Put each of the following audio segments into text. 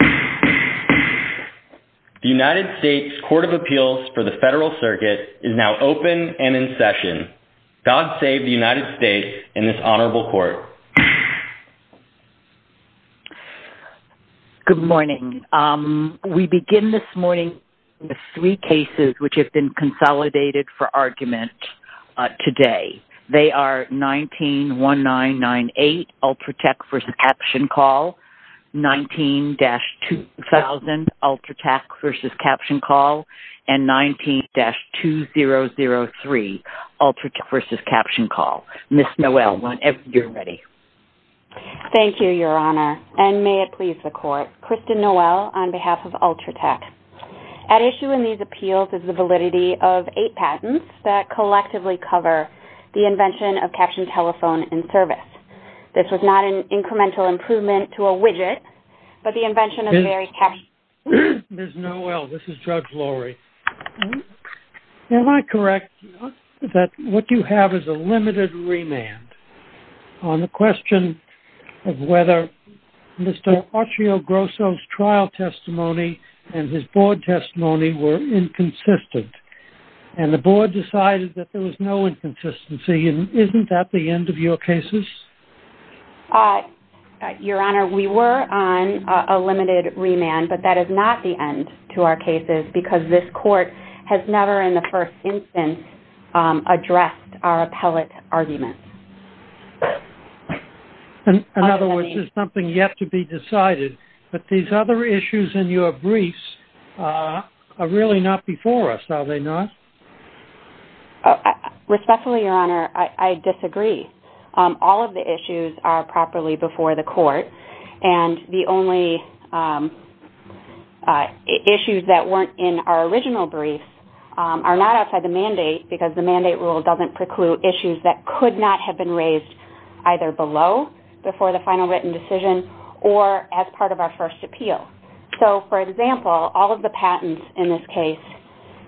The United States Court of Appeals for the Federal Circuit is now open and in session. God save the United States and this Honorable Court. Good morning. We begin this morning with three cases which have been consolidated for argument today. They are 19-1998, Ultratec v. CaptionCall, 19-2000, Ultratec v. CaptionCall, and 19-2003, Ultratec v. CaptionCall. Ms. Noel, whenever you're ready. Thank you, Your Honor, and may it please the Court. Kristen Noel on behalf of Ultratec. At issue in these appeals is the validity of eight patents that collectively cover the invention of captioned telephone in service. This was not an incremental improvement to a widget, but the invention of various captions. Ms. Noel, this is Judge Lurie. Am I correct that what you have is a limited remand on the question of whether Mr. Accio-Grosso's trial testimony and his board testimony were inconsistent? And the board decided that there was no inconsistency, and isn't that the end of your cases? Your Honor, we were on a limited remand, but that is not the end to our cases because this Court has never in the first instance addressed our appellate arguments. In other words, there's something yet to be decided, but these other issues in your briefs are really not before us, are they not? Respectfully, Your Honor, I disagree. All of the issues are properly before the Court, and the only issues that weren't in our original briefs are not outside the mandate because the mandate rule doesn't preclude issues that could not have been raised either below, before the final written decision, or as part of our first appeal. So, for example, all of the patents in this case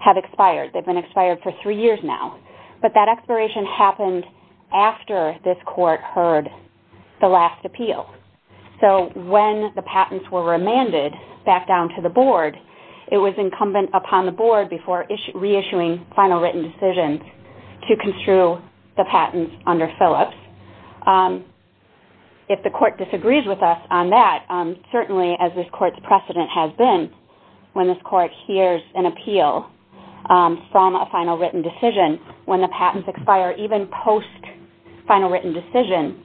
have expired. They've been expired for three years now, but that expiration happened after this Court heard the last appeal. So, when the patents were remanded back down to the board, it was incumbent upon the board before reissuing final written decisions to construe the patents under Phillips. If the Court disagrees with us on that, certainly as this Court's precedent has been, when this Court hears an appeal from a final written decision, when the patents expire even post final written decision,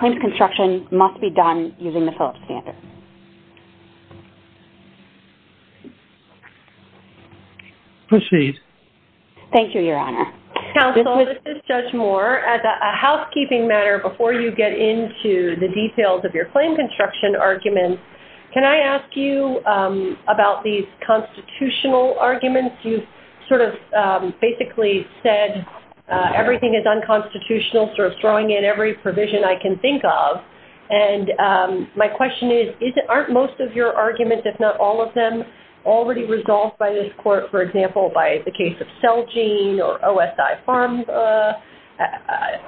claims construction must be done using the Phillips standard. Proceed. Thank you, Your Honor. Counsel, this is Judge Moore. As a housekeeping matter, before you get into the details of your claim construction arguments, can I ask you about these constitutional arguments? You've sort of basically said everything is unconstitutional, sort of throwing in every provision I can think of. And my question is, aren't most of your arguments, if not all of them, already resolved by this Court? For example, by the case of Celgene or OSI Pharma?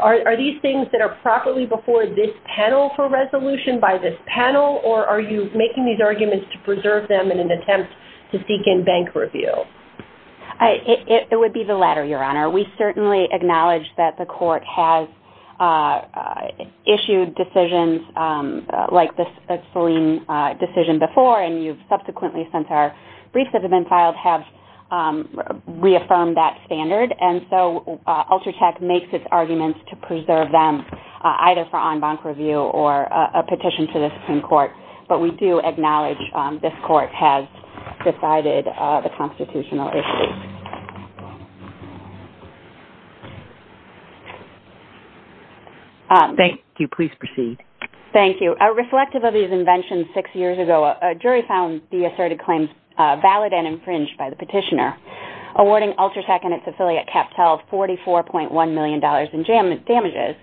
Are these things that are properly before this panel for resolution by this panel, or are you making these arguments to preserve them in an attempt to seek in bank review? It would be the latter, Your Honor. We certainly acknowledge that the Court has issued decisions like the Celgene decision before, and you've subsequently, since our briefs have been filed, have reaffirmed that standard. And so Ultratech makes its arguments to preserve them, either for en banc review or a petition to the Supreme Court. But we do acknowledge this Court has decided the constitutional issues. Thank you. Please proceed. Thank you. Reflective of these inventions six years ago, a jury found the asserted claims valid and infringed by the petitioner. Awarding Ultratech and its affiliate CapTel $44.1 million in damages,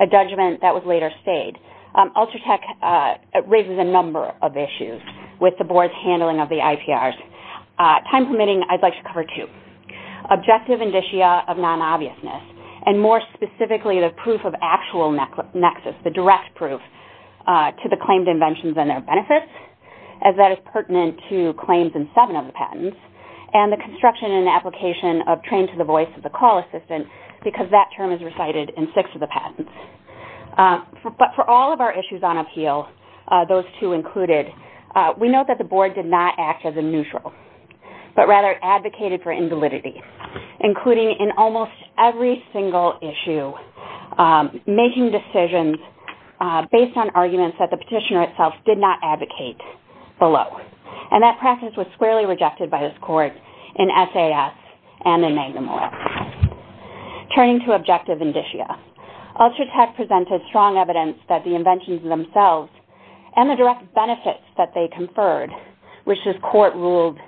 a judgment that was later stayed. Ultratech raises a number of issues with the Board's handling of the IPRs. Time permitting, I'd like to cover two. Objective indicia of non-obviousness, and more specifically, the proof of actual nexus, the direct proof to the claimed inventions and their benefits, as that is pertinent to claims in seven of the patents. And the construction and application of trained to the voice of the call assistant, because that term is recited in six of the patents. But for all of our issues on appeal, those two included, we note that the Board did not act as a neutral, but rather advocated for invalidity, including in almost every single issue, making decisions based on arguments that the petitioner itself did not advocate below. And that practice was squarely rejected by this Court in SAS and in Magnum Oil. Turning to objective indicia, Ultratech presented strong evidence that the inventions themselves and the direct benefits that they conferred, which this Court ruled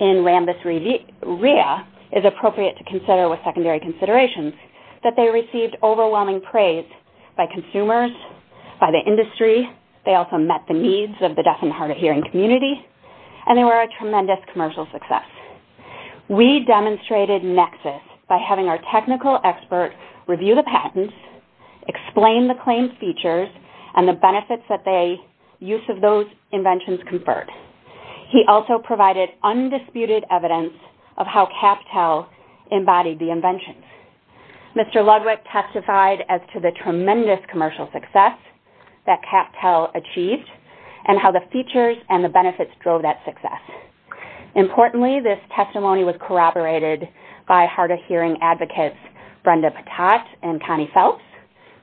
in Rambis Rhea, is appropriate to consider with secondary considerations, that they received overwhelming praise by consumers, by the industry. They also met the needs of the deaf and hard of hearing community. And they were a tremendous commercial success. We demonstrated nexus by having our technical expert review the patents, explain the claims features, and the benefits that the use of those inventions conferred. He also provided undisputed evidence of how CapTel embodied the inventions. Mr. Ludwig testified as to the tremendous commercial success that CapTel achieved and how the features and the benefits drove that success. Importantly, this testimony was corroborated by hard of hearing advocates Brenda Patat and Connie Phelps,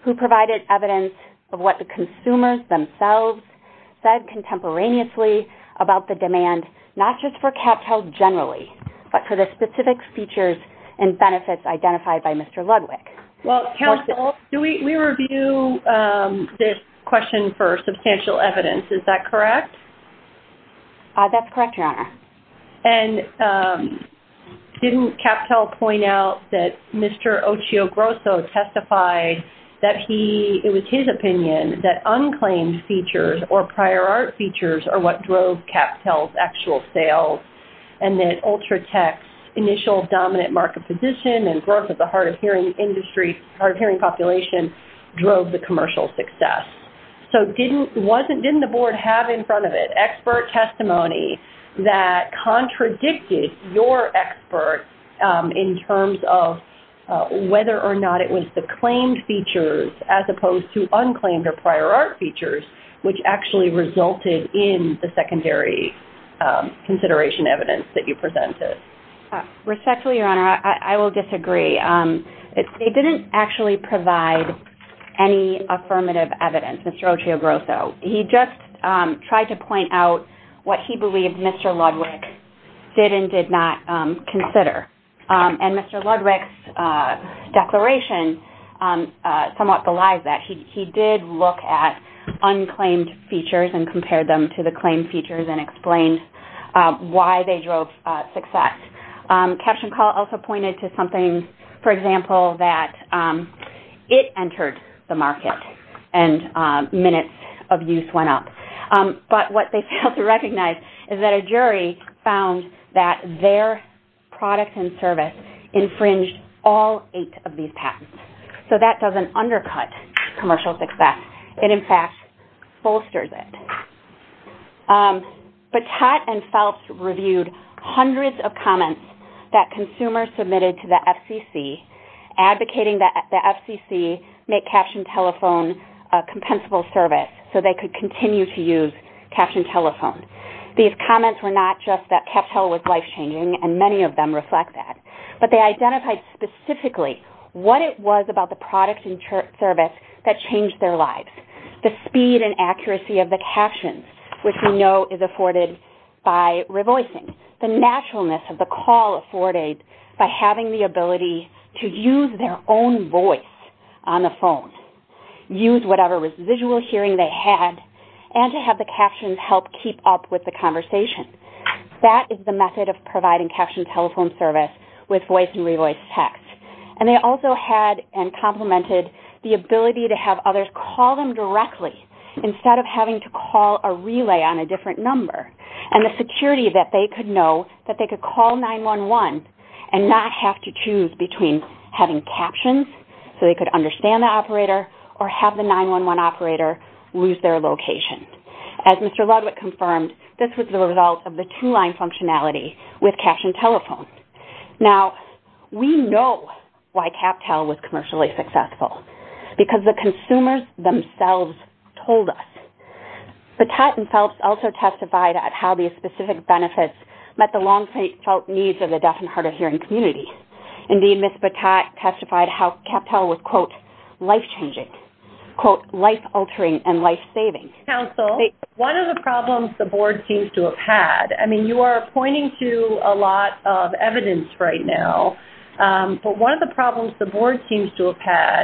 who provided evidence of what the consumers themselves said contemporaneously about the demand, not just for CapTel generally, but for the specific features and benefits identified by Mr. Ludwig. Well, counsel, we review this question for substantial evidence. Is that correct? That's correct, Your Honor. And didn't CapTel point out that Mr. Ochio Grosso testified that it was his opinion that unclaimed features or prior art features are what drove CapTel's actual sales and that Ultratech's initial dominant market position and growth of the hard of hearing industry, hard of hearing population, drove the commercial success? So didn't the board have in front of it expert testimony that contradicted your expert in terms of whether or not it was the claimed features as opposed to unclaimed or prior art features, which actually resulted in the secondary consideration evidence that you presented? Respectfully, Your Honor, I will disagree. They didn't actually provide any affirmative evidence, Mr. Ochio Grosso. He just tried to point out what he believed Mr. Ludwig did and did not consider. And Mr. Ludwig's declaration somewhat belies that. He did look at unclaimed features and compared them to the claimed features and explained why they drove success. Caption Call also pointed to something, for example, that it entered the market and minutes of use went up. But what they failed to recognize is that a jury found that their product and service infringed all eight of these patents. So that doesn't undercut commercial success. It, in fact, bolsters it. Patat and Phelps reviewed hundreds of comments that consumers submitted to the FCC advocating that the FCC make Caption Telephone a compensable service so they could continue to use Caption Telephone. These comments were not just that Captel was life-changing, and many of them reflect that, but they identified specifically what it was about the product and service that changed their lives. The speed and accuracy of the captions, which we know is afforded by revoicing. The naturalness of the call afforded by having the ability to use their own voice on the phone, use whatever visual hearing they had, and to have the captions help keep up with the conversation. That is the method of providing Caption Telephone service with voice and revoiced text. And they also had, and complemented, the ability to have others call them directly instead of having to call a relay on a different number. And the security that they could know that they could call 9-1-1 and not have to choose between having captions so they could understand the operator or have the 9-1-1 operator lose their location. As Mr. Ludwick confirmed, this was the result of the two-line functionality with Caption Telephone. Now, we know why CapTel was commercially successful. Because the consumers themselves told us. Patat and Phelps also testified at how these specific benefits met the long-felt needs of the deaf and hard-of-hearing community. Indeed, Ms. Patat testified how CapTel was, quote, life-changing, quote, life-altering and life-saving. Counsel, one of the problems the board seems to have had, I mean, you are pointing to a lot of evidence right now. But one of the problems the board seems to have had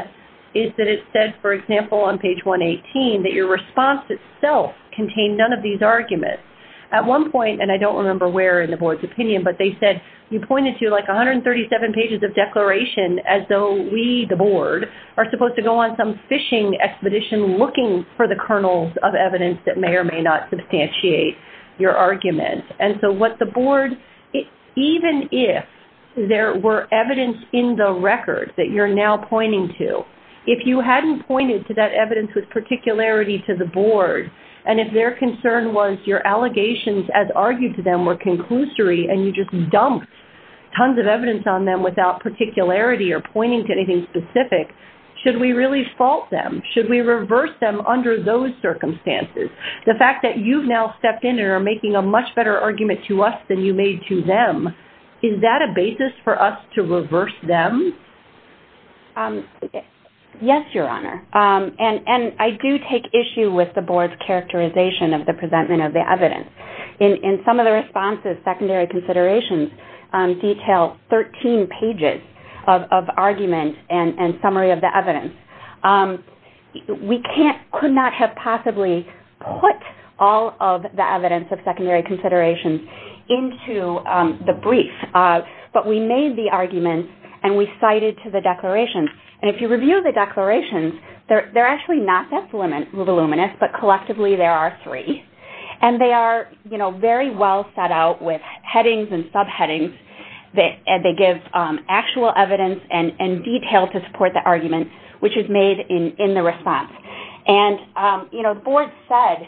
is that it said, for example, on page 118, that your response itself contained none of these arguments. At one point, and I don't remember where in the board's opinion, but they said, you pointed to like 137 pages of declaration as though we, the board, are supposed to go on some fishing expedition looking for the kernels of evidence that may or may not substantiate your argument. And so what the board, even if there were evidence in the record that you're now pointing to, if you hadn't pointed to that evidence with particularity to the board, and if their concern was your allegations as argued to them were conclusory and you just dumped tons of evidence on them without particularity or pointing to anything specific, should we really fault them? Should we reverse them under those circumstances? The fact that you've now stepped in and are making a much better argument to us than you made to them, is that a basis for us to reverse them? Yes, Your Honor. And I do take issue with the board's characterization of the presentment of the evidence. In some of the responses, secondary considerations detail 13 pages of argument and summary of the evidence. We could not have possibly put all of the evidence of secondary considerations into the brief, but we made the argument and we cited to the declarations. And if you review the declarations, they're actually not that voluminous, but collectively there are three. And they are very well set out with headings and subheadings. They give actual evidence and detail to support the argument, which is made in the response. And the board said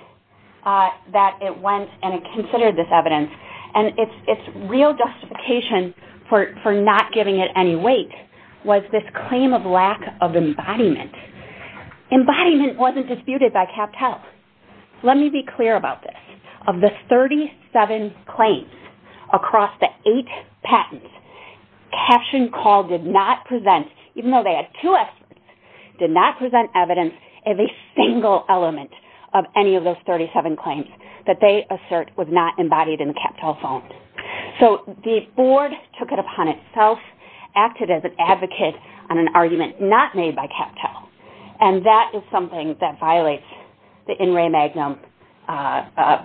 that it went and it considered this evidence, and its real justification for not giving it any weight was this claim of lack of embodiment. Embodiment wasn't disputed by CapTel. Let me be clear about this. Of the 37 claims across the eight patents, CaptionCall did not present, even though they had two experts, did not present evidence of a single element of any of those 37 claims that they assert was not embodied in the CapTel phone. So the board took it upon itself, acted as an advocate on an argument not made by CapTel, and that is something that violates the in re magnum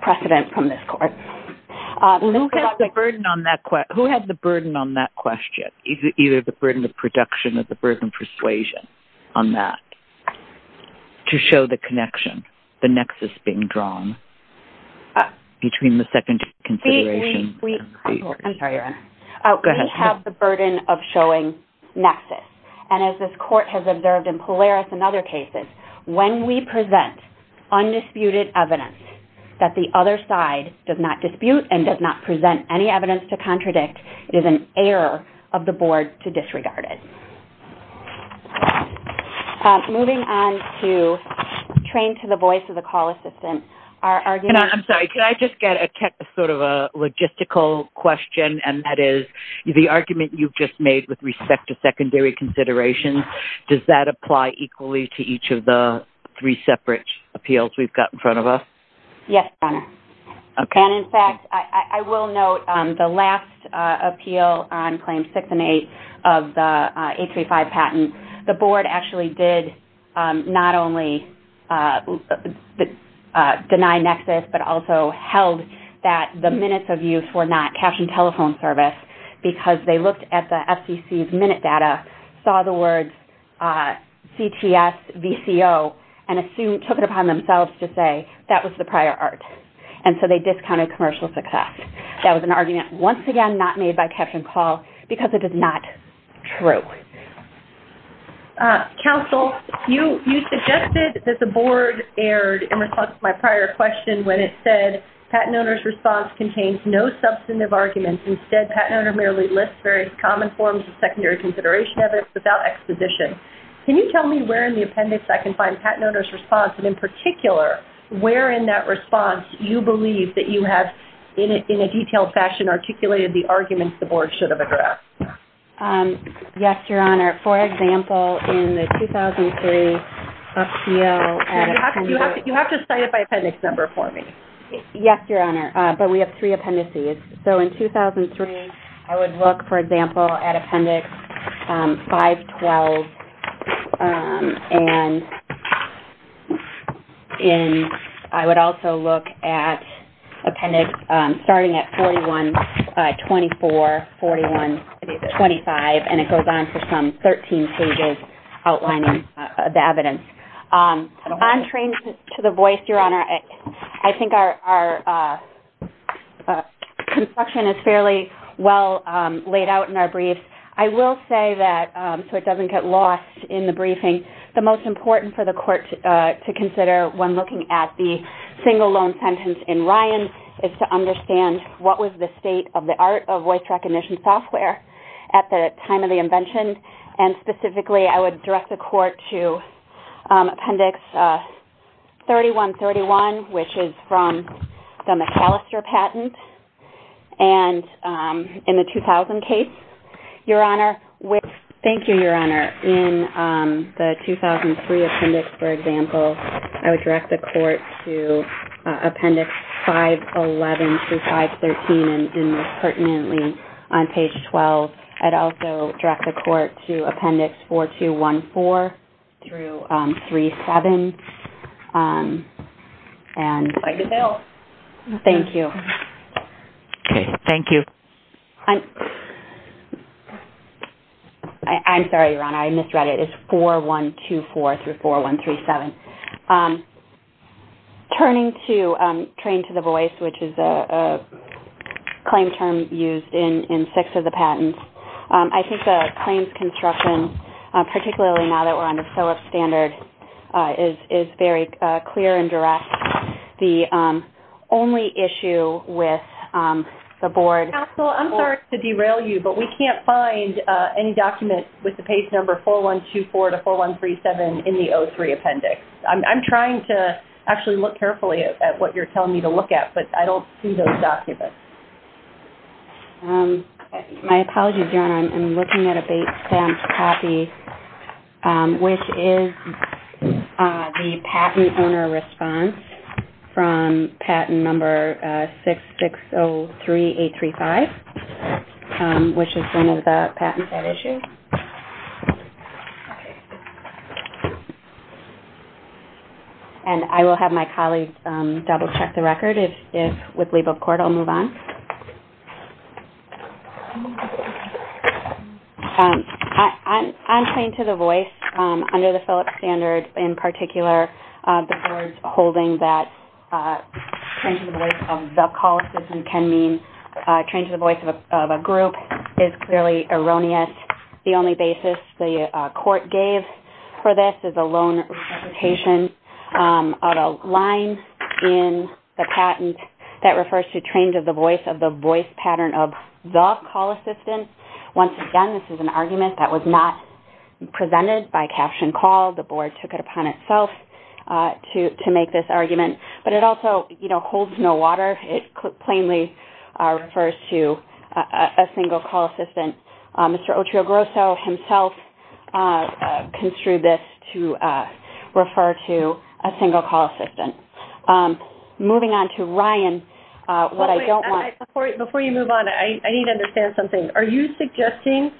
precedent from this court. Who has the burden on that question? Is it either the burden of production or the burden of persuasion on that to show the connection, the nexus being drawn between the second consideration? We have the burden of showing nexus. And as this court has observed in Polaris and other cases, when we present undisputed evidence that the other side does not dispute and does not present any evidence to contradict, it is an error of the board to disregard it. Moving on to train to the voice of the call assistant. I'm sorry. Could I just get sort of a logistical question, and that is the argument you just made with respect to secondary considerations, does that apply equally to each of the three separate appeals we've got in front of us? Yes, Your Honor. And, in fact, I will note the last appeal on Claims 6 and 8 of the 835 patent, the board actually did not only deny nexus but also held that the minutes of use were not captioned telephone service because they looked at the FCC's minute data, saw the words CTS, VCO, and took it upon themselves to say that was the prior art. And so they discounted commercial success. That was an argument, once again, not made by Caption Call because it is not true. Counsel, you suggested that the board erred in response to my prior question when it said patent owner's response contains no substantive arguments. Instead, patent owner merely lists various common forms of secondary consideration evidence without exposition. Can you tell me where in the appendix I can find patent owner's response and, in particular, where in that response you believe that you have, in a detailed fashion, articulated the arguments the board should have addressed? Yes, Your Honor. For example, in the 2003 FCO, You have to cite it by appendix number for me. Yes, Your Honor, but we have three appendices. So in 2003, I would look, for example, at appendix 512, and I would also look at appendix starting at 4124, 4125, and it goes on for some 13 pages outlining the evidence. On training to the voice, Your Honor, I think our construction is fairly well laid out in our brief. I will say that, so it doesn't get lost in the briefing, the most important for the court to consider when looking at the single loan sentence in Ryan is to understand what was the state of the art of voice recognition software at the time of the invention, and specifically, I would direct the court to appendix 3131, which is from the McAllister patent, and in the 2000 case, Your Honor, Thank you, Your Honor. In the 2003 appendix, for example, I would direct the court to appendix 511 to 513, and this pertinently on page 12. I would also direct the court to appendix 4214 through 37. Thank you. Thank you. I'm sorry, Your Honor. I misread it. It's 4124 through 4137. Turning to train to the voice, which is a claim term used in six of the patents, I think the claims construction, particularly now that we're under SOAP standard, is very clear and direct. The only issue with the board... Counsel, I'm sorry to derail you, but we can't find any document with the page number 4124 to 4137 in the 03 appendix. I'm trying to actually look carefully at what you're telling me to look at, but I don't see those documents. My apologies, Your Honor. I'm looking at a stamped copy, which is the patent owner response from patent number 6603835, which is one of the patents at issue. Okay. And I will have my colleagues double-check the record. If, with leave of court, I'll move on. On train to the voice, under the Phillips standard in particular, the board's holding that train to the voice of the call system can mean train to the voice of a group is clearly erroneous. The only basis the court gave for this is a loan reputation on a line in the patent that refers to train to the voice of the voice pattern of the call assistant. Once again, this is an argument that was not presented by caption call. The board took it upon itself to make this argument. But it also holds no water. It plainly refers to a single call assistant. Mr. Otrio-Grosso himself construed this to refer to a single call assistant. Moving on to Ryan, what I don't want... Before you move on, I need to understand something. Are you suggesting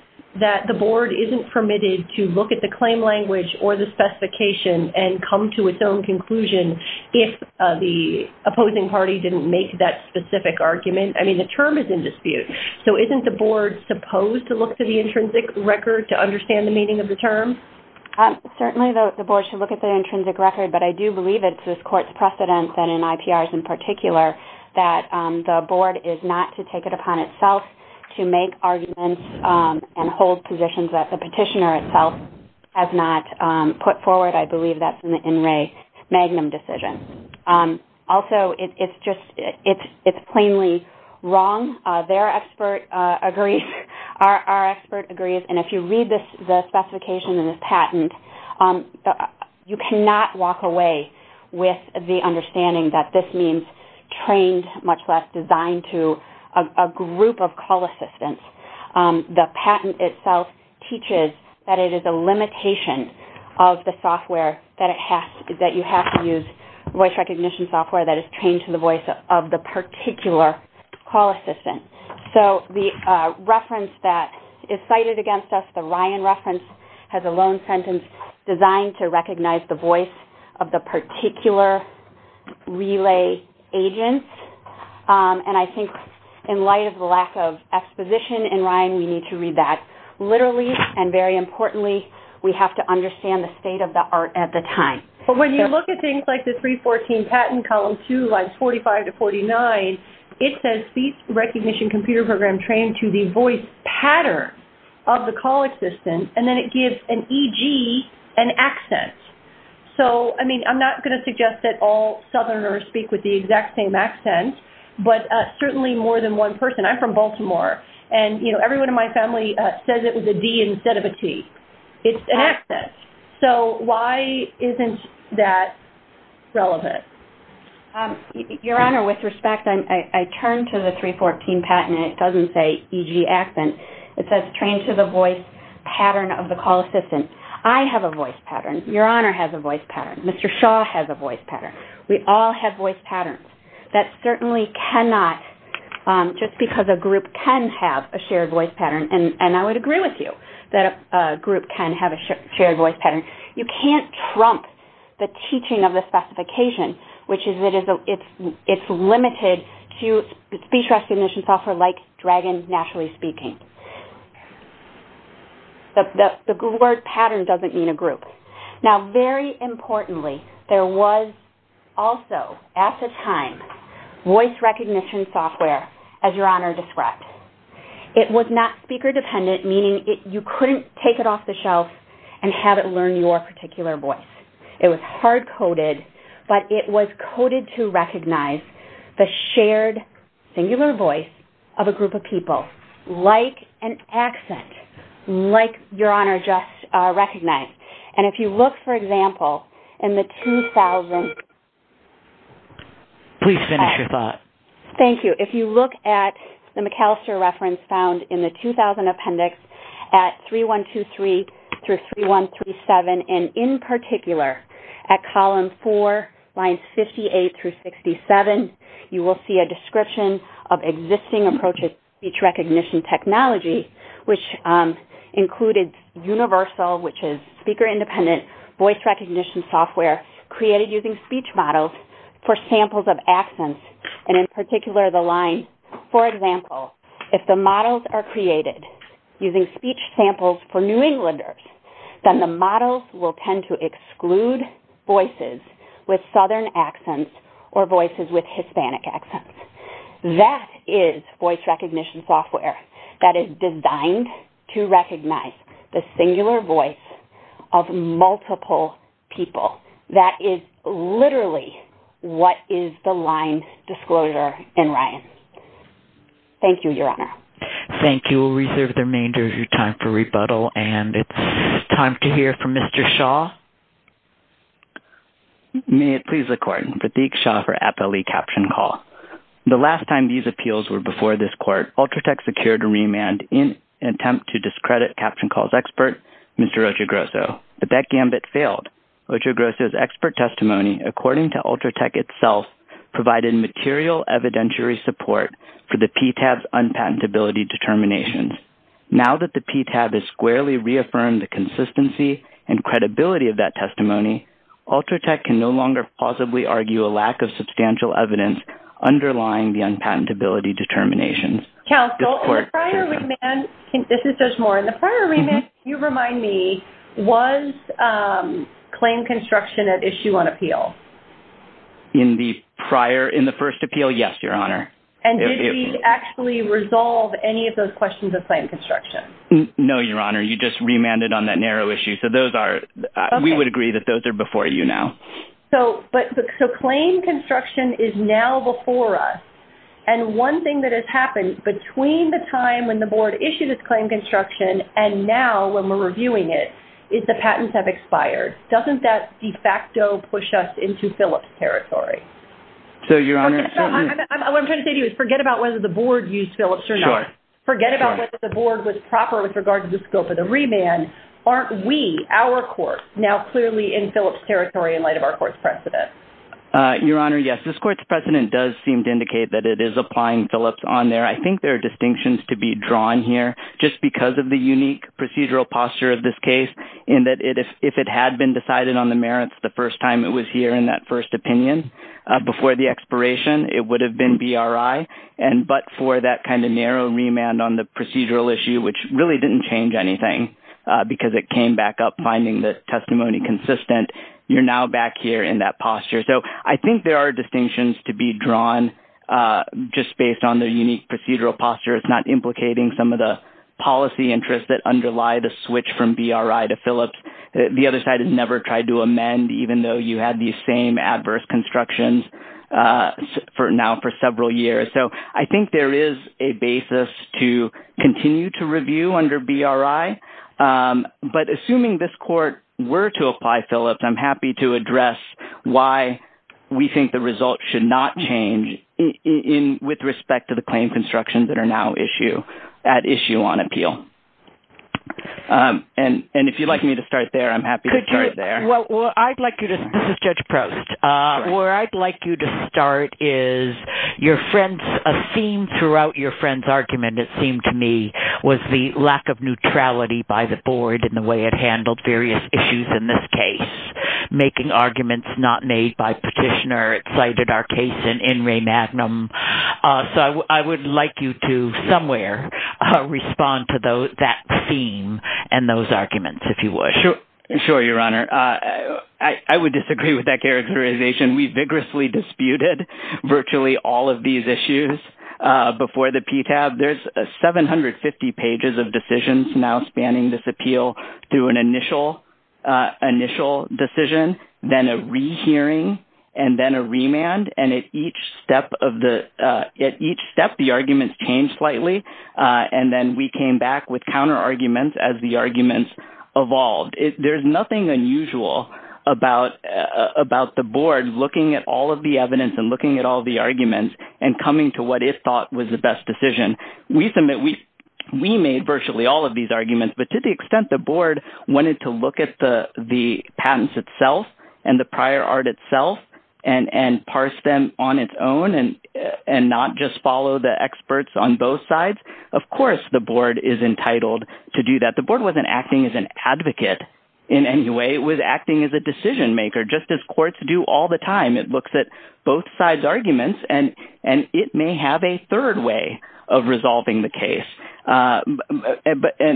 that the board isn't permitted to look at the claim language or the specification and come to its own conclusion if the opposing party didn't make that specific argument? I mean, the term is in dispute. So isn't the board supposed to look to the intrinsic record to understand the meaning of the term? Certainly the board should look at the intrinsic record, but I do believe it's this court's precedence and in IPRs in particular that the board is not to take it upon itself to make arguments and hold positions that the petitioner itself has not put forward. I believe that's an in re magnum decision. Also, it's just plainly wrong. Their expert agrees. Our expert agrees. And if you read the specification in this patent, you cannot walk away with the understanding that this means trained, much less designed to a group of call assistants. The patent itself teaches that it is a limitation of the software that you have to use, voice recognition software that is trained to the voice of the particular call assistant. So the reference that is cited against us, the Ryan reference, has a loan sentence designed to recognize the voice of the particular relay agent. And I think in light of the lack of exposition in Ryan, we need to read that literally, and very importantly, we have to understand the state of the art at the time. When you look at things like the 314 patent, column 2, lines 45 to 49, it says speech recognition computer program trained to the voice pattern of the call assistant, and then it gives an EG an accent. I'm not going to suggest that all southerners speak with the exact same accent, but certainly more than one person. I'm from Baltimore, and everyone in my family says it with a D instead of a T. It's an accent. So why isn't that relevant? Your Honor, with respect, I turned to the 314 patent, and it doesn't say EG accent. It says trained to the voice pattern of the call assistant. I have a voice pattern. Your Honor has a voice pattern. Mr. Shaw has a voice pattern. We all have voice patterns. That certainly cannot, just because a group can have a shared voice pattern, and I would agree with you that a group can have a shared voice pattern, you can't trump the teaching of the specification, which is it's limited to speech recognition software like Dragon NaturallySpeaking. The word pattern doesn't mean a group. Now, very importantly, there was also at the time voice recognition software, as Your Honor described. It was not speaker-dependent, meaning you couldn't take it off the shelf and have it learn your particular voice. It was hard-coded, but it was coded to recognize the shared singular voice of a group of people, like an accent, like Your Honor just recognized. And if you look, for example, in the 2000s. Please finish your thought. Thank you. If you look at the McAllister reference found in the 2000 appendix at 3123-3137, and in particular at column 4, lines 58-67, you will see a description of existing approaches to speech recognition technology, which included universal, which is speaker-independent, voice recognition software created using speech models for samples of accents, and in particular the line, for example, if the models are created using speech samples for New Englanders, then the models will tend to exclude voices with southern accents or voices with Hispanic accents. That is voice recognition software that is designed to recognize the singular voice of multiple people. That is literally what is the line disclosure in Ryan. Thank you, Your Honor. Thank you. We'll reserve the remainder of your time for rebuttal, and it's time to hear from Mr. Shaw. May it please the Court. Prateek Shaw for APALE Caption Call. The last time these appeals were before this Court, Ultratech secured a remand in an attempt to discredit Caption Call's expert, Mr. Ocho Grosso. But that gambit failed. Ocho Grosso's expert testimony, according to Ultratech itself, provided material evidentiary support for the PTAB's unpatentability determinations. Now that the PTAB has squarely reaffirmed the consistency and credibility of that testimony, Ultratech can no longer possibly argue a lack of substantial evidence underlying the unpatentability determinations. Counsel, the prior remand, this is Judge Moore, and the prior remand, if you remind me, was claim construction at issue on appeal? In the prior, in the first appeal, yes, Your Honor. And did we actually resolve any of those questions of claim construction? No, Your Honor. You just remanded on that narrow issue. So those are, we would agree that those are before you now. So claim construction is now before us. And one thing that has happened between the time when the board issued its claim construction and now when we're reviewing it is the patents have expired. Doesn't that de facto push us into Phillips' territory? So, Your Honor. What I'm trying to say to you is forget about whether the board used Phillips or not. Sure. Forget about whether the board was proper with regard to the scope of the remand. Aren't we, our court, now clearly in Phillips' territory in light of our court's precedent? Your Honor, yes. This court's precedent does seem to indicate that it is applying Phillips on there. I think there are distinctions to be drawn here just because of the unique procedural posture of this case in that if it had been decided on the merits the first time it was here in that first opinion before the expiration, it would have been BRI, but for that kind of narrow remand on the procedural issue, which really didn't change anything because it came back up finding the testimony consistent, you're now back here in that posture. So, I think there are distinctions to be drawn just based on the unique procedural posture. It's not implicating some of the policy interests that underlie the switch from BRI to Phillips. The other side has never tried to amend even though you had these same adverse constructions now for several years. So, I think there is a basis to continue to review under BRI, but assuming this court were to apply Phillips, I'm happy to address why we think the result should not change with respect to the claim constructions that are now at issue on appeal. And if you'd like me to start there, I'm happy to start there. Well, I'd like you to – this is Judge Prost. Where I'd like you to start is a theme throughout your friend's argument, it seemed to me, was the lack of neutrality by the board in the way it handled various issues in this case, making arguments not made by petitioner. It cited our case in Ray Magnum. So, I would like you to somewhere respond to that theme and those arguments, if you wish. Sure, Your Honor. I would disagree with that characterization. We vigorously disputed virtually all of these issues before the PTAB. There's 750 pages of decisions now spanning this appeal through an initial decision, then a rehearing, and then a remand. And at each step, the arguments change slightly, and then we came back with counterarguments as the arguments evolved. There's nothing unusual about the board looking at all of the evidence and looking at all the arguments and coming to what it thought was the best decision. We made virtually all of these arguments, but to the extent the board wanted to look at the patents itself and the prior art itself and parse them on its own and not just follow the experts on both sides, of course the board is entitled to do that. The board wasn't acting as an advocate in any way. It was acting as a decision maker, just as courts do all the time. It looks at both sides' arguments, and it may have a third way of resolving the case. And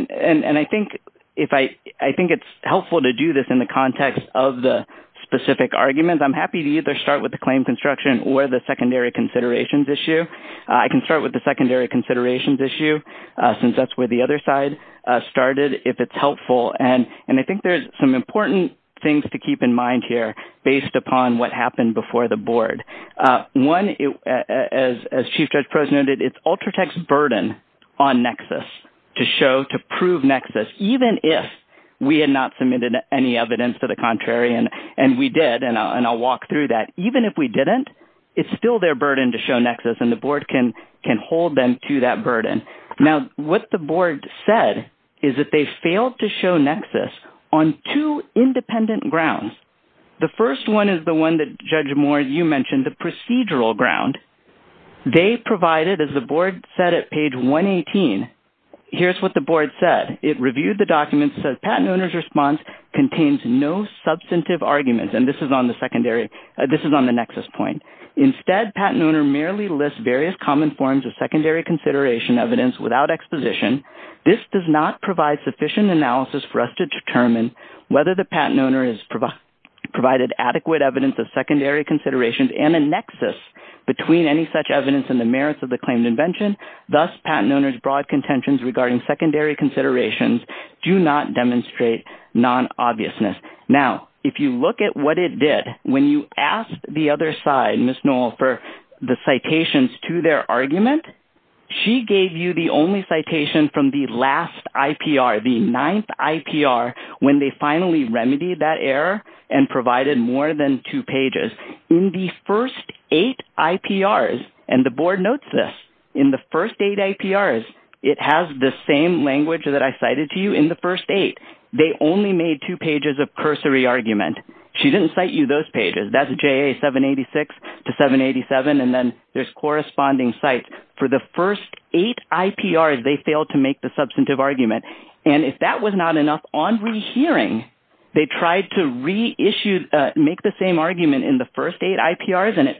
I think it's helpful to do this in the context of the specific arguments. I'm happy to either start with the claim construction or the secondary considerations issue. I can start with the secondary considerations issue, since that's where the other side started, if it's helpful. And I think there's some important things to keep in mind here based upon what happened before the board. One, as Chief Judge Proz noted, it's Ultratech's burden on Nexus to show, to prove Nexus, even if we had not submitted any evidence to the contrarian, and we did, and I'll walk through that. Even if we didn't, it's still their burden to show Nexus, and the board can hold them to that burden. Now, what the board said is that they failed to show Nexus on two independent grounds. The first one is the one that, Judge Moore, you mentioned, the procedural ground. They provided, as the board said at page 118, here's what the board said. It reviewed the documents and said, Patent owner's response contains no substantive arguments, and this is on the Nexus point. Instead, patent owner merely lists various common forms of secondary consideration evidence without exposition. This does not provide sufficient analysis for us to determine whether the patent owner has provided adequate evidence of secondary considerations and a Nexus between any such evidence and the merits of the claimed invention. Thus, patent owner's broad contentions regarding secondary considerations do not demonstrate non-obviousness. Now, if you look at what it did, when you asked the other side, Ms. Noel, for the citations to their argument, she gave you the only citation from the last IPR, the ninth IPR, when they finally remedied that error and provided more than two pages. In the first eight IPRs, and the board notes this, in the first eight IPRs, it has the same language that I cited to you in the first eight. They only made two pages of cursory argument. She didn't cite you those pages. That's JA 786 to 787, and then there's corresponding cites. For the first eight IPRs, they failed to make the substantive argument. And if that was not enough, on rehearing, they tried to reissue, make the same argument in the first eight IPRs, and at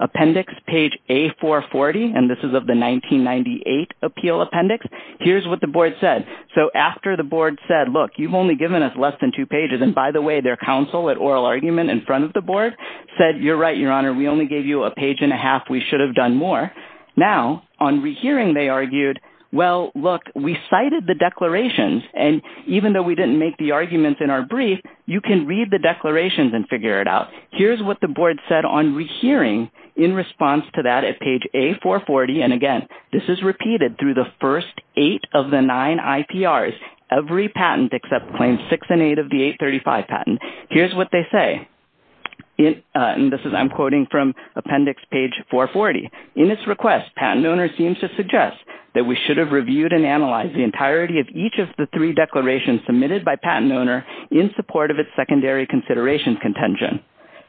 appendix page A440, and this is of the 1998 appeal appendix, here's what the board said. So after the board said, look, you've only given us less than two pages, and by the way, their counsel at oral argument in front of the board said, you're right, Your Honor, we only gave you a page and a half. We should have done more. Now, on rehearing, they argued, well, look, we cited the declarations, and even though we didn't make the arguments in our brief, you can read the declarations and figure it out. Here's what the board said on rehearing in response to that at page A440, and again, this is repeated through the first eight of the nine IPRs, every patent except claims six and eight of the 835 patent. Here's what they say, and this is I'm quoting from appendix page 440. In this request, patent owner seems to suggest that we should have reviewed and analyzed the entirety of each of the three declarations submitted by patent owner in support of its secondary consideration contention.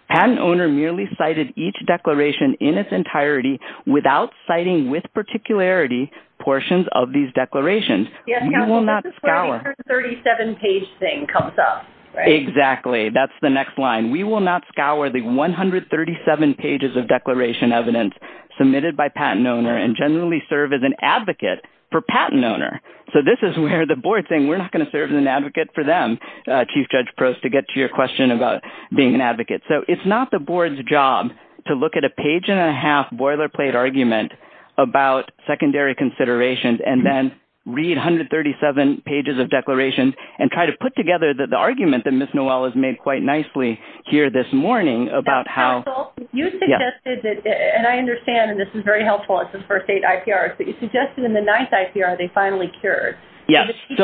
Patent owner merely cited each declaration in its entirety without citing with particularity portions of these declarations. Yes, counsel, this is where the 137-page thing comes up, right? Exactly. That's the next line. We will not scour the 137 pages of declaration evidence submitted by patent owner and generally serve as an advocate for patent owner. So this is where the board is saying we're not going to serve as an advocate for them, Chief Judge Prost, to get to your question about being an advocate. So it's not the board's job to look at a page-and-a-half boilerplate argument about secondary considerations and then read 137 pages of declarations and try to put together the argument that Ms. Noel has made quite nicely here this morning about how – Counsel, you suggested that, and I understand, and this is very helpful, it's the first eight IPRs, but you suggested in the ninth IPR they finally cured. Yes. Did the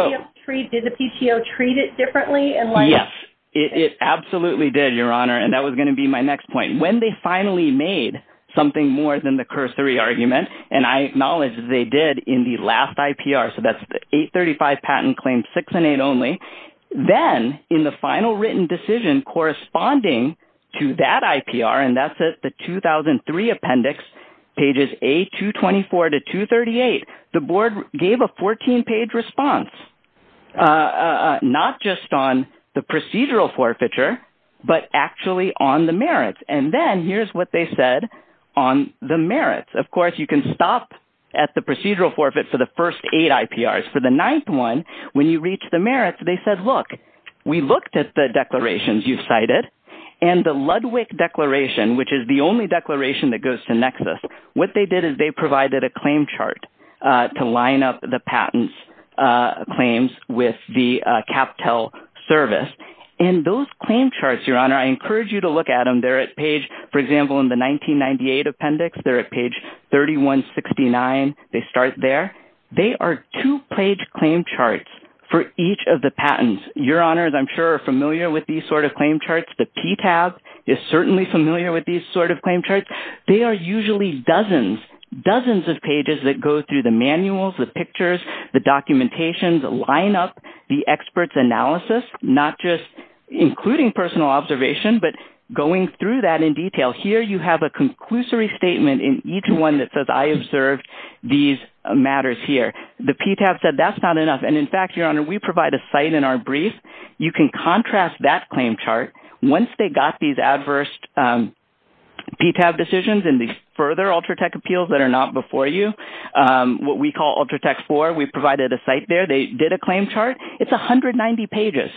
PTO treat it differently? Yes, it absolutely did, Your Honor, and that was going to be my next point. When they finally made something more than the CURS 3 argument, and I acknowledge they did in the last IPR, so that's the 835 patent claims 6 and 8 only, then in the final written decision corresponding to that IPR, and that's at the 2003 appendix, pages A224 to 238, the board gave a 14-page response, not just on the procedural forfeiture but actually on the merits, and then here's what they said on the merits. Of course, you can stop at the procedural forfeit for the first eight IPRs. For the ninth one, when you reach the merits, they said, look, we looked at the declarations you cited, and the Ludwig Declaration, which is the only declaration that goes to Nexus, what they did is they provided a claim chart to line up the patents claims with the CapTel service, and those claim charts, Your Honor, I encourage you to look at them. They're at page, for example, in the 1998 appendix, they're at page 3169. They start there. They are two-page claim charts for each of the patents. Your Honors, I'm sure, are familiar with these sort of claim charts. The PTAB is certainly familiar with these sort of claim charts. They are usually dozens, dozens of pages that go through the manuals, the pictures, the documentations, line up the experts' analysis, not just including personal observation but going through that in detail. Here you have a conclusory statement in each one that says, I observed these matters here. The PTAB said that's not enough, and in fact, Your Honor, we provide a site in our brief. You can contrast that claim chart. Once they got these adverse PTAB decisions and these further Ultratech appeals that are not before you, what we call Ultratech 4, we provided a site there. They did a claim chart. It's 190 pages.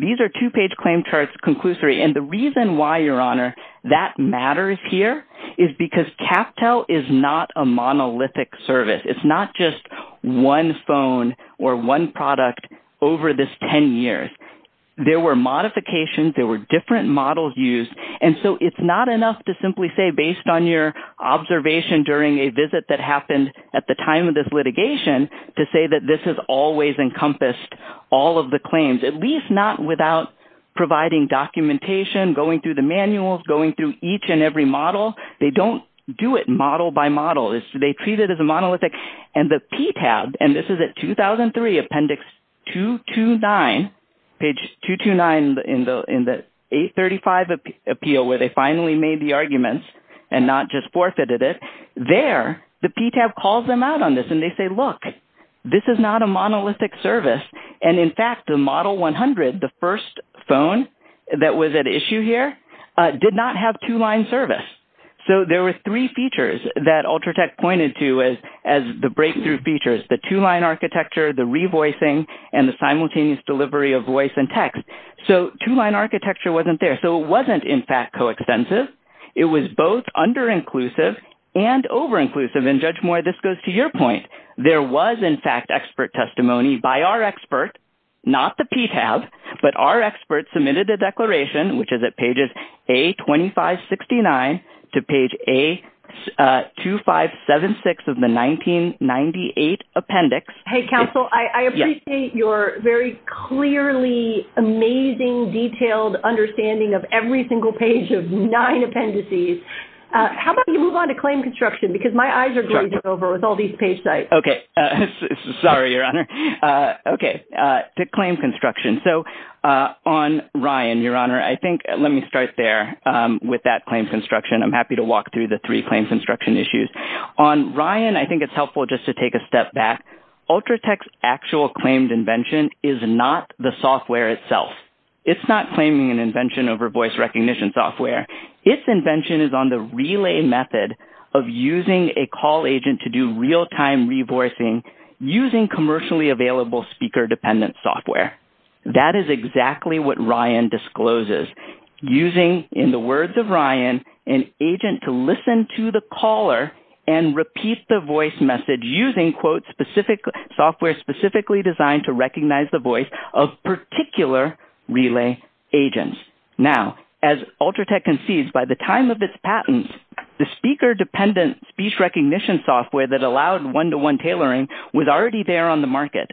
These are two-page claim charts, conclusory. And the reason why, Your Honor, that matters here is because CapTel is not a monolithic service. It's not just one phone or one product over this 10 years. There were modifications. There were different models used. And so it's not enough to simply say based on your observation during a visit that happened at the time of this litigation to say that this has always encompassed all of the claims, at least not without providing documentation, going through the manuals, going through each and every model. They don't do it model by model. They treat it as a monolithic. And the PTAB, and this is at 2003, appendix 229, page 229 in the 835 appeal where they finally made the arguments and not just forfeited it, there the PTAB calls them out on this, and they say, look, this is not a monolithic service. And, in fact, the Model 100, the first phone that was at issue here, did not have two-line service. So there were three features that Ultratech pointed to as the breakthrough features, the two-line architecture, the revoicing, and the simultaneous delivery of voice and text. So two-line architecture wasn't there. So it wasn't, in fact, co-extensive. It was both under-inclusive and over-inclusive. And, Judge Moore, this goes to your point. There was, in fact, expert testimony by our expert, not the PTAB, but our expert submitted a declaration, which is at pages A2569 to page A2576 of the 1998 appendix. Hey, counsel, I appreciate your very clearly amazing, detailed understanding of every single page of nine appendices. How about you move on to claim construction, because my eyes are glazed over with all these page sites. Okay. Sorry, Your Honor. Okay. To claim construction. So on Ryan, Your Honor, I think let me start there with that claim construction. I'm happy to walk through the three claim construction issues. On Ryan, I think it's helpful just to take a step back. Ultratech's actual claimed invention is not the software itself. It's not claiming an invention over voice recognition software. Its invention is on the relay method of using a call agent to do real-time revoicing using commercially available speaker-dependent software. That is exactly what Ryan discloses. Using, in the words of Ryan, an agent to listen to the caller and repeat the voice message using, quote, software specifically designed to recognize the voice of particular relay agents. Now, as Ultratech concedes, by the time of its patent, the speaker-dependent speech recognition software that allowed one-to-one tailoring was already there on the market.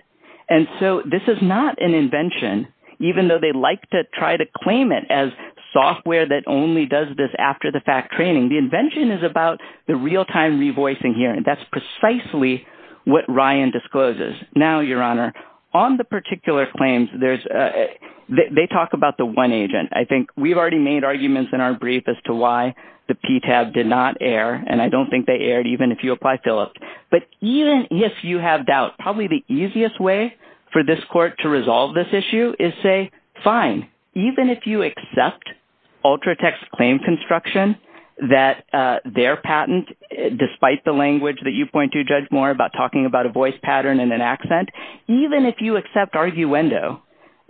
And so this is not an invention, even though they like to try to claim it as software that only does this after the fact training. The invention is about the real-time revoicing here, and that's precisely what Ryan discloses. Now, Your Honor, on the particular claims, they talk about the one agent. I think we've already made arguments in our brief as to why the PTAB did not air, and I don't think they aired even if you apply Phillips. But even if you have doubt, probably the easiest way for this court to resolve this issue is say, fine. Even if you accept Ultratech's claim construction, that their patent, despite the language that you point to, Judge Moore, about talking about a voice pattern and an accent, even if you accept arguendo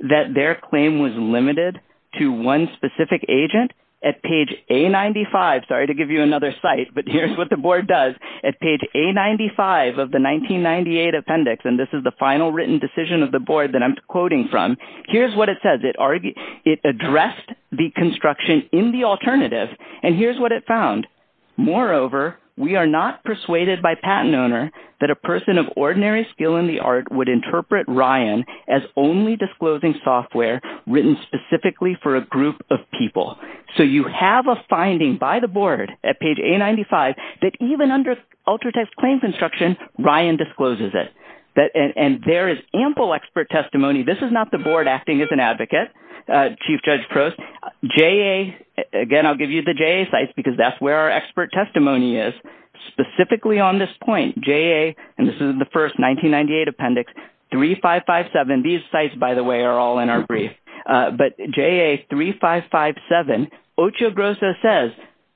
that their claim was limited to one specific agent, at page A95 – sorry to give you another site, but here's what the board does – at page A95 of the 1998 appendix, and this is the final written decision of the board that I'm quoting from, here's what it says. It addressed the construction in the alternative, and here's what it found. Moreover, we are not persuaded by patent owner that a person of ordinary skill in the art would interpret Ryan as only disclosing software written specifically for a group of people. So you have a finding by the board at page A95 that even under Ultratech's claim construction, Ryan discloses it. And there is ample expert testimony. This is not the board acting as an advocate, Chief Judge Prost. Again, I'll give you the JA sites because that's where our expert testimony is. Specifically on this point, JA – and this is the first 1998 appendix – 3557 – these sites, by the way, are all in our brief. But JA 3557, Ocho Grosso says,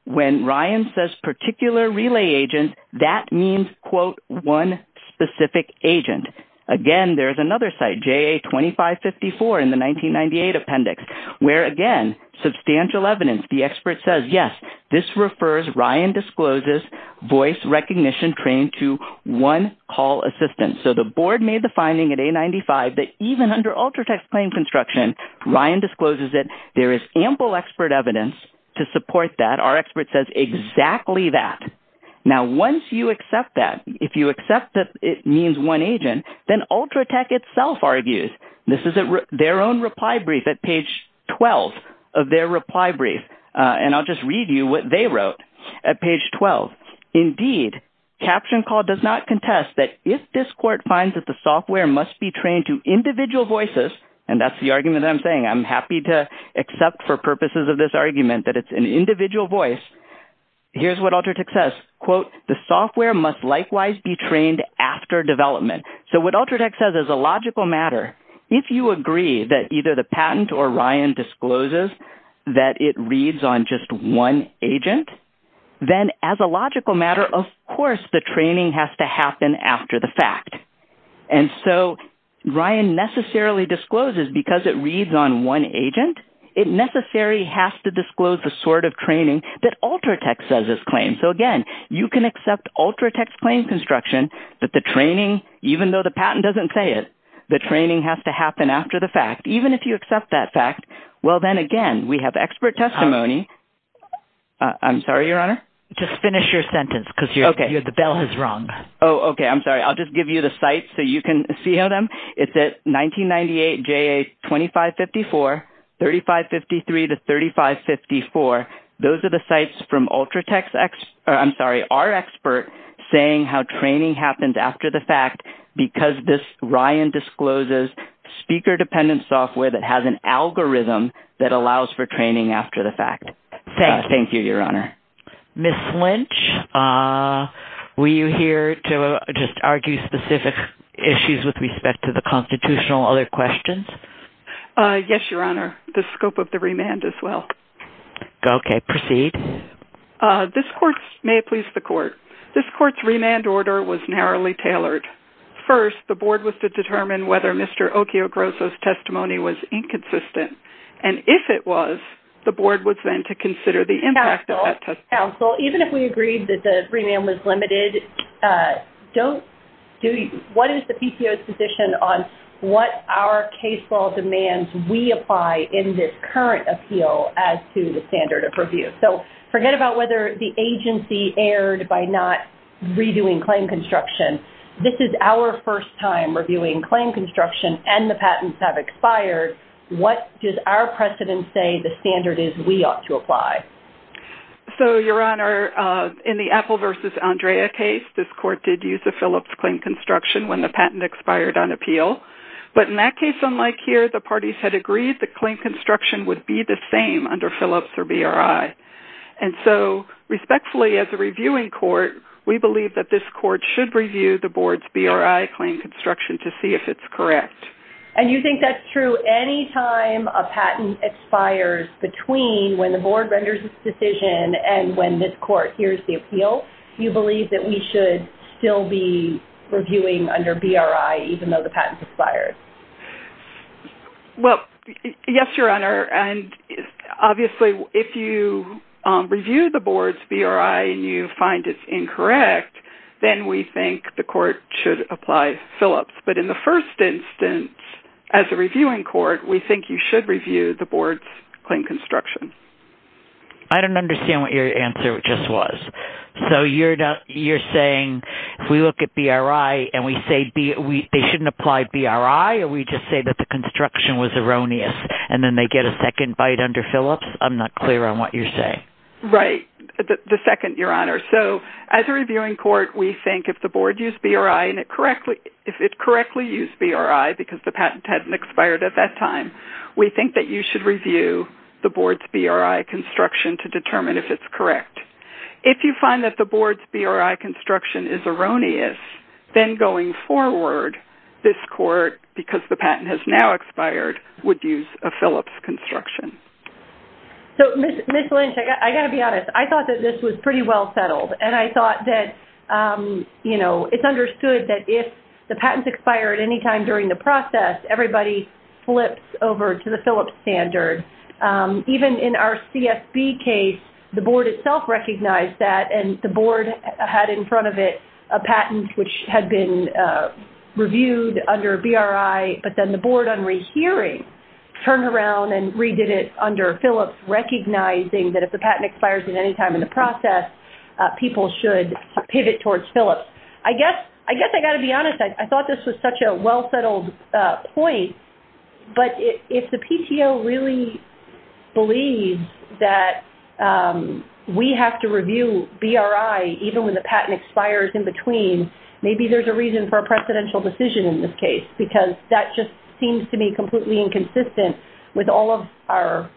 when Ryan says particular relay agent, that means, quote, one specific agent. Again, there's another site, JA 2554 in the 1998 appendix, where again, substantial evidence. The expert says, yes, this refers Ryan discloses voice recognition trained to one call assistant. So the board made the finding at A95 that even under Ultratech's claim construction, Ryan discloses it. There is ample expert evidence to support that. Our expert says exactly that. Now, once you accept that, if you accept that it means one agent, then Ultratech itself argues. This is their own reply brief at page 12 of their reply brief, and I'll just read you what they wrote at page 12. Indeed, CaptionCall does not contest that if this court finds that the software must be trained to individual voices – and that's the argument that I'm saying. I'm happy to accept for purposes of this argument that it's an individual voice. Here's what Ultratech says. Quote, the software must likewise be trained after development. So what Ultratech says is a logical matter. If you agree that either the patent or Ryan discloses that it reads on just one agent, then as a logical matter, of course the training has to happen after the fact. And so Ryan necessarily discloses because it reads on one agent. It necessarily has to disclose the sort of training that Ultratech says is claimed. So again, you can accept Ultratech's claim construction that the training, even though the patent doesn't say it, the training has to happen after the fact. Even if you accept that fact, well then again, we have expert testimony. I'm sorry, Your Honor. Just finish your sentence because the bell has rung. Oh, okay. I'm sorry. I'll just give you the sites so you can see them. It's at 1998 JA 2554, 3553 to 3554. Those are the sites from Ultratech's – I'm sorry, our expert saying how training happens after the fact because this Ryan discloses speaker-dependent software that has an algorithm that allows for training after the fact. Thank you, Your Honor. Ms. Lynch, were you here to just argue specific issues with respect to the constitutional? Other questions? Yes, Your Honor. The scope of the remand as well. Okay. Proceed. This court's – may it please the court – this court's remand order was narrowly tailored. First, the board was to determine whether Mr. Okio Grosso's testimony was inconsistent. And if it was, the board was then to consider the impact of that testimony. Counsel, even if we agreed that the remand was limited, don't – what is the PCO's position on what our case law demands we apply in this current appeal as to the standard of review? So forget about whether the agency erred by not reviewing claim construction. This is our first time reviewing claim construction and the patents have expired. What does our precedent say the standard is we ought to apply? So, Your Honor, in the Apple v. Andrea case, this court did use a Phillips claim construction when the patent expired on appeal. But in that case, unlike here, the parties had agreed the claim construction would be the same under Phillips or BRI. And so, respectfully, as a reviewing court, we believe that this court should review the board's BRI claim construction to see if it's correct. And you think that's true any time a patent expires between when the board renders its decision and when this court hears the appeal? You believe that we should still be reviewing under BRI even though the patent expired? Well, yes, Your Honor. And obviously, if you review the board's BRI and you find it's incorrect, then we think the court should apply Phillips. But in the first instance, as a reviewing court, we think you should review the board's claim construction. I don't understand what your answer just was. So you're saying if we look at BRI and we say they shouldn't apply BRI or we just say that the construction was erroneous and then they get a second bite under Phillips? I'm not clear on what you're saying. Right. The second, Your Honor. So as a reviewing court, we think if the board used BRI and it correctly used BRI because the patent hadn't expired at that time, we think that you should review the board's BRI construction to determine if it's correct. If you find that the board's BRI construction is erroneous, then going forward, this court, because the patent has now expired, would use a Phillips construction. So, Ms. Lynch, I've got to be honest. I thought that this was pretty well settled, and I thought that it's understood that if the patents expire at any time during the process, everybody flips over to the Phillips standard. Even in our CFB case, the board itself recognized that, and the board had in front of it a patent which had been reviewed under BRI, but then the board, on rehearing, turned around and redid it under Phillips, recognizing that if the patent expires at any time in the process, people should pivot towards Phillips. I guess I've got to be honest. I thought this was such a well-settled point, but if the PTO really believes that we have to review BRI even when the patent expires in between, maybe there's a reason for a precedential decision in this case, because that just seems to me completely inconsistent with our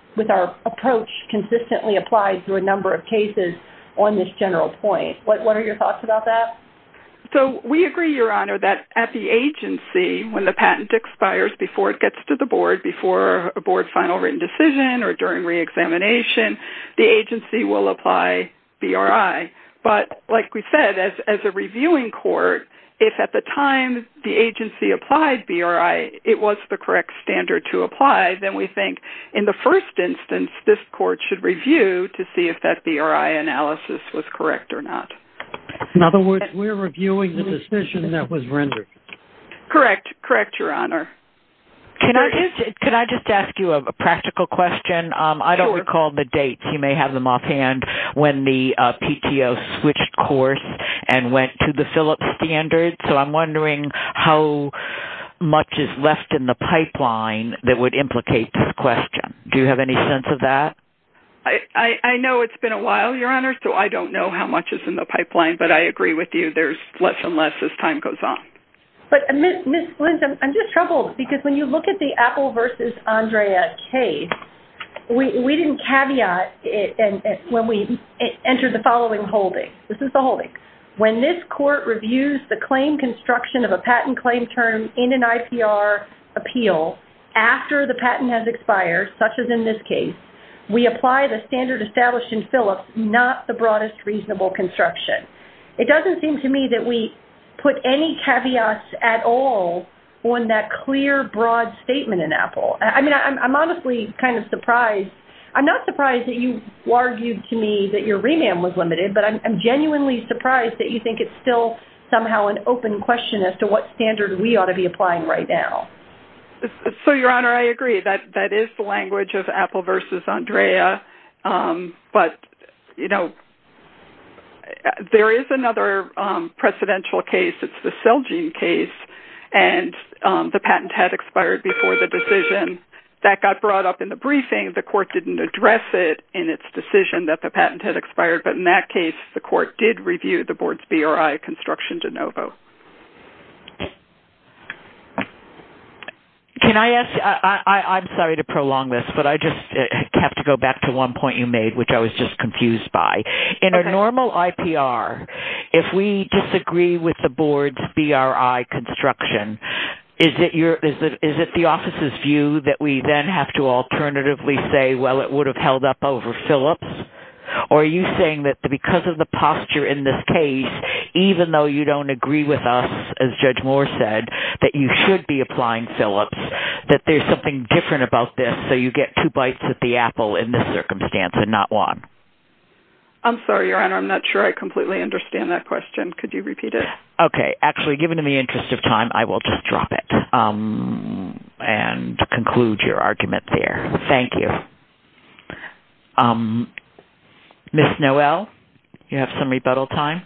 approach consistently applied through a number of cases on this general point. What are your thoughts about that? So, we agree, Your Honor, that at the agency, when the patent expires before it gets to the board, before a board final written decision or during reexamination, the agency will apply BRI. But like we said, as a reviewing court, if at the time the agency applied BRI, it was the correct standard to apply, then we think in the first instance this court should review to see if that BRI analysis was correct or not. In other words, we're reviewing the decision that was rendered. Correct. Correct, Your Honor. Can I just ask you a practical question? Sure. I don't recall the dates. You may have them offhand when the PTO switched course and went to the Phillips standard, so I'm wondering how much is left in the pipeline that would implicate this question. Do you have any sense of that? I know it's been a while, Your Honor, so I don't know how much is in the pipeline, but I agree with you. There's less and less as time goes on. But Ms. Flint, I'm just troubled because when you look at the Apple versus Andrea case, we didn't caveat it when we entered the following holding. This is the holding. When this court reviews the claim construction of a patent claim term in an IPR appeal after the patent has expired, such as in this case, we apply the standard established in Phillips, not the broadest reasonable construction. It doesn't seem to me that we put any caveats at all on that clear, broad statement in Apple. I mean, I'm honestly kind of surprised. I'm not surprised that you argued to me that your remand was limited, but I'm genuinely surprised that you think it's still somehow an open question as to what standard we ought to be applying right now. So, Your Honor, I agree. That is the language of Apple versus Andrea, but, you know, there is another precedential case. It's the Celgene case, and the patent had expired before the decision. That got brought up in the briefing. The court didn't address it in its decision that the patent had expired, but in that case the court did review the board's BRI construction de novo. Can I ask – I'm sorry to prolong this, but I just have to go back to one point you made, which I was just confused by. In a normal IPR, if we disagree with the board's BRI construction, is it the office's view that we then have to alternatively say, well, it would have held up over Phillips? Or are you saying that because of the posture in this case, even though you don't agree with us, as Judge Moore said, that you should be applying Phillips, that there's something different about this, so you get two bites at the apple in this circumstance and not one? I'm sorry, Your Honor. I'm not sure I completely understand that question. Could you repeat it? Okay. Actually, given the interest of time, I will just drop it and conclude your argument there. Thank you. Ms. Noel, you have some rebuttal time.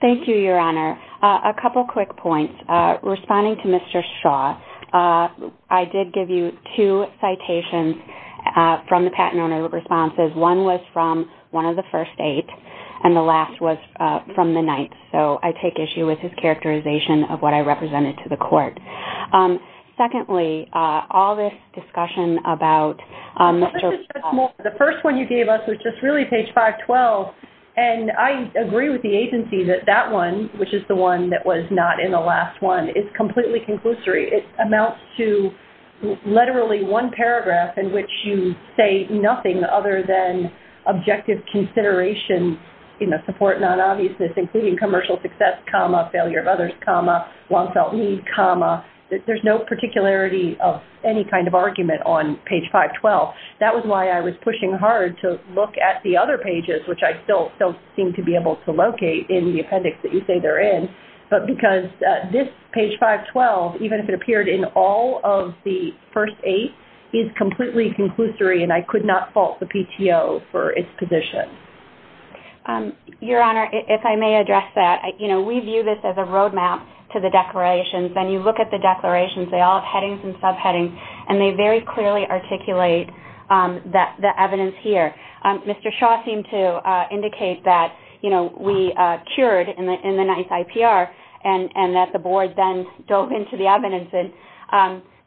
Thank you, Your Honor. A couple quick points. Responding to Mr. Shaw, I did give you two citations from the patent owner responses. One was from one of the first eight, and the last was from the ninth. So I take issue with his characterization of what I represented to the court. Secondly, all this discussion about Mr. Shaw. The first one you gave us was just really page 512, and I agree with the agency that that one, which is the one that was not in the last one, is completely conclusory. It amounts to literally one paragraph in which you say nothing other than objective consideration, support non-obviousness, including commercial success, failure of others, long-felt need. There's no particularity of any kind of argument on page 512. That was why I was pushing hard to look at the other pages, which I still don't seem to be able to locate in the appendix that you say they're in, but because this page 512, even if it appeared in all of the first eight, is completely conclusory, and I could not fault the PTO for its position. Your Honor, if I may address that, we view this as a roadmap to the declarations. When you look at the declarations, they all have headings and subheadings, and they very clearly articulate the evidence here. Mr. Shaw seemed to indicate that we cured in the ninth IPR, and that the board then dove into the evidence.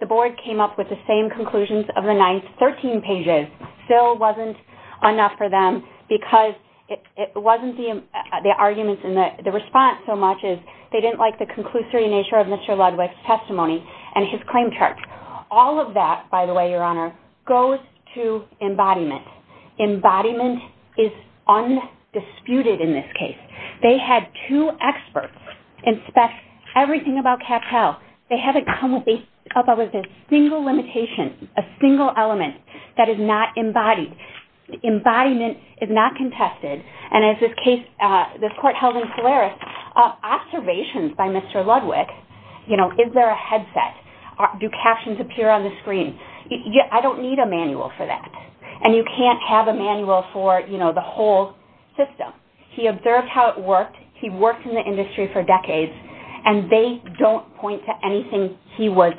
The board came up with the same conclusions of the ninth, 13 pages. Still wasn't enough for them because it wasn't the arguments in the response so much as they didn't like the conclusory nature of Mr. Ludwig's testimony and his claim chart. All of that, by the way, Your Honor, goes to embodiment. Embodiment is undisputed in this case. They had two experts inspect everything about CapTel. They haven't come up with a single limitation, a single element that is not embodied. Embodiment is not contested, and as this case, this court held in Polaris, observations by Mr. Ludwig, you know, is there a headset? Do captions appear on the screen? I don't need a manual for that, and you can't have a manual for, you know, the whole system. He observed how it worked. He worked in the industry for decades, and they don't point to anything he was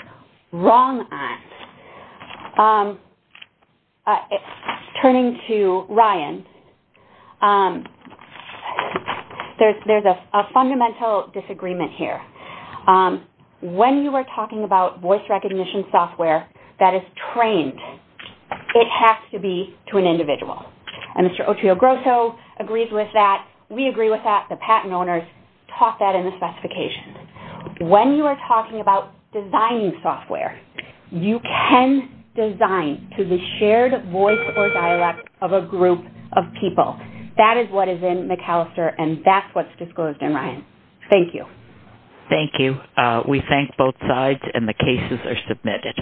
wrong on. Turning to Ryan, there's a fundamental disagreement here. When you are talking about voice recognition software that is trained, it has to be to an individual, and Mr. Otrio Grosso agrees with that. We agree with that. The patent owners taught that in the specifications. When you are talking about designing software, you can design to the shared voice or dialect of a group of people. That is what is in McAllister, and that's what's disclosed in Ryan. Thank you. Thank you. We thank both sides, and the cases are submitted.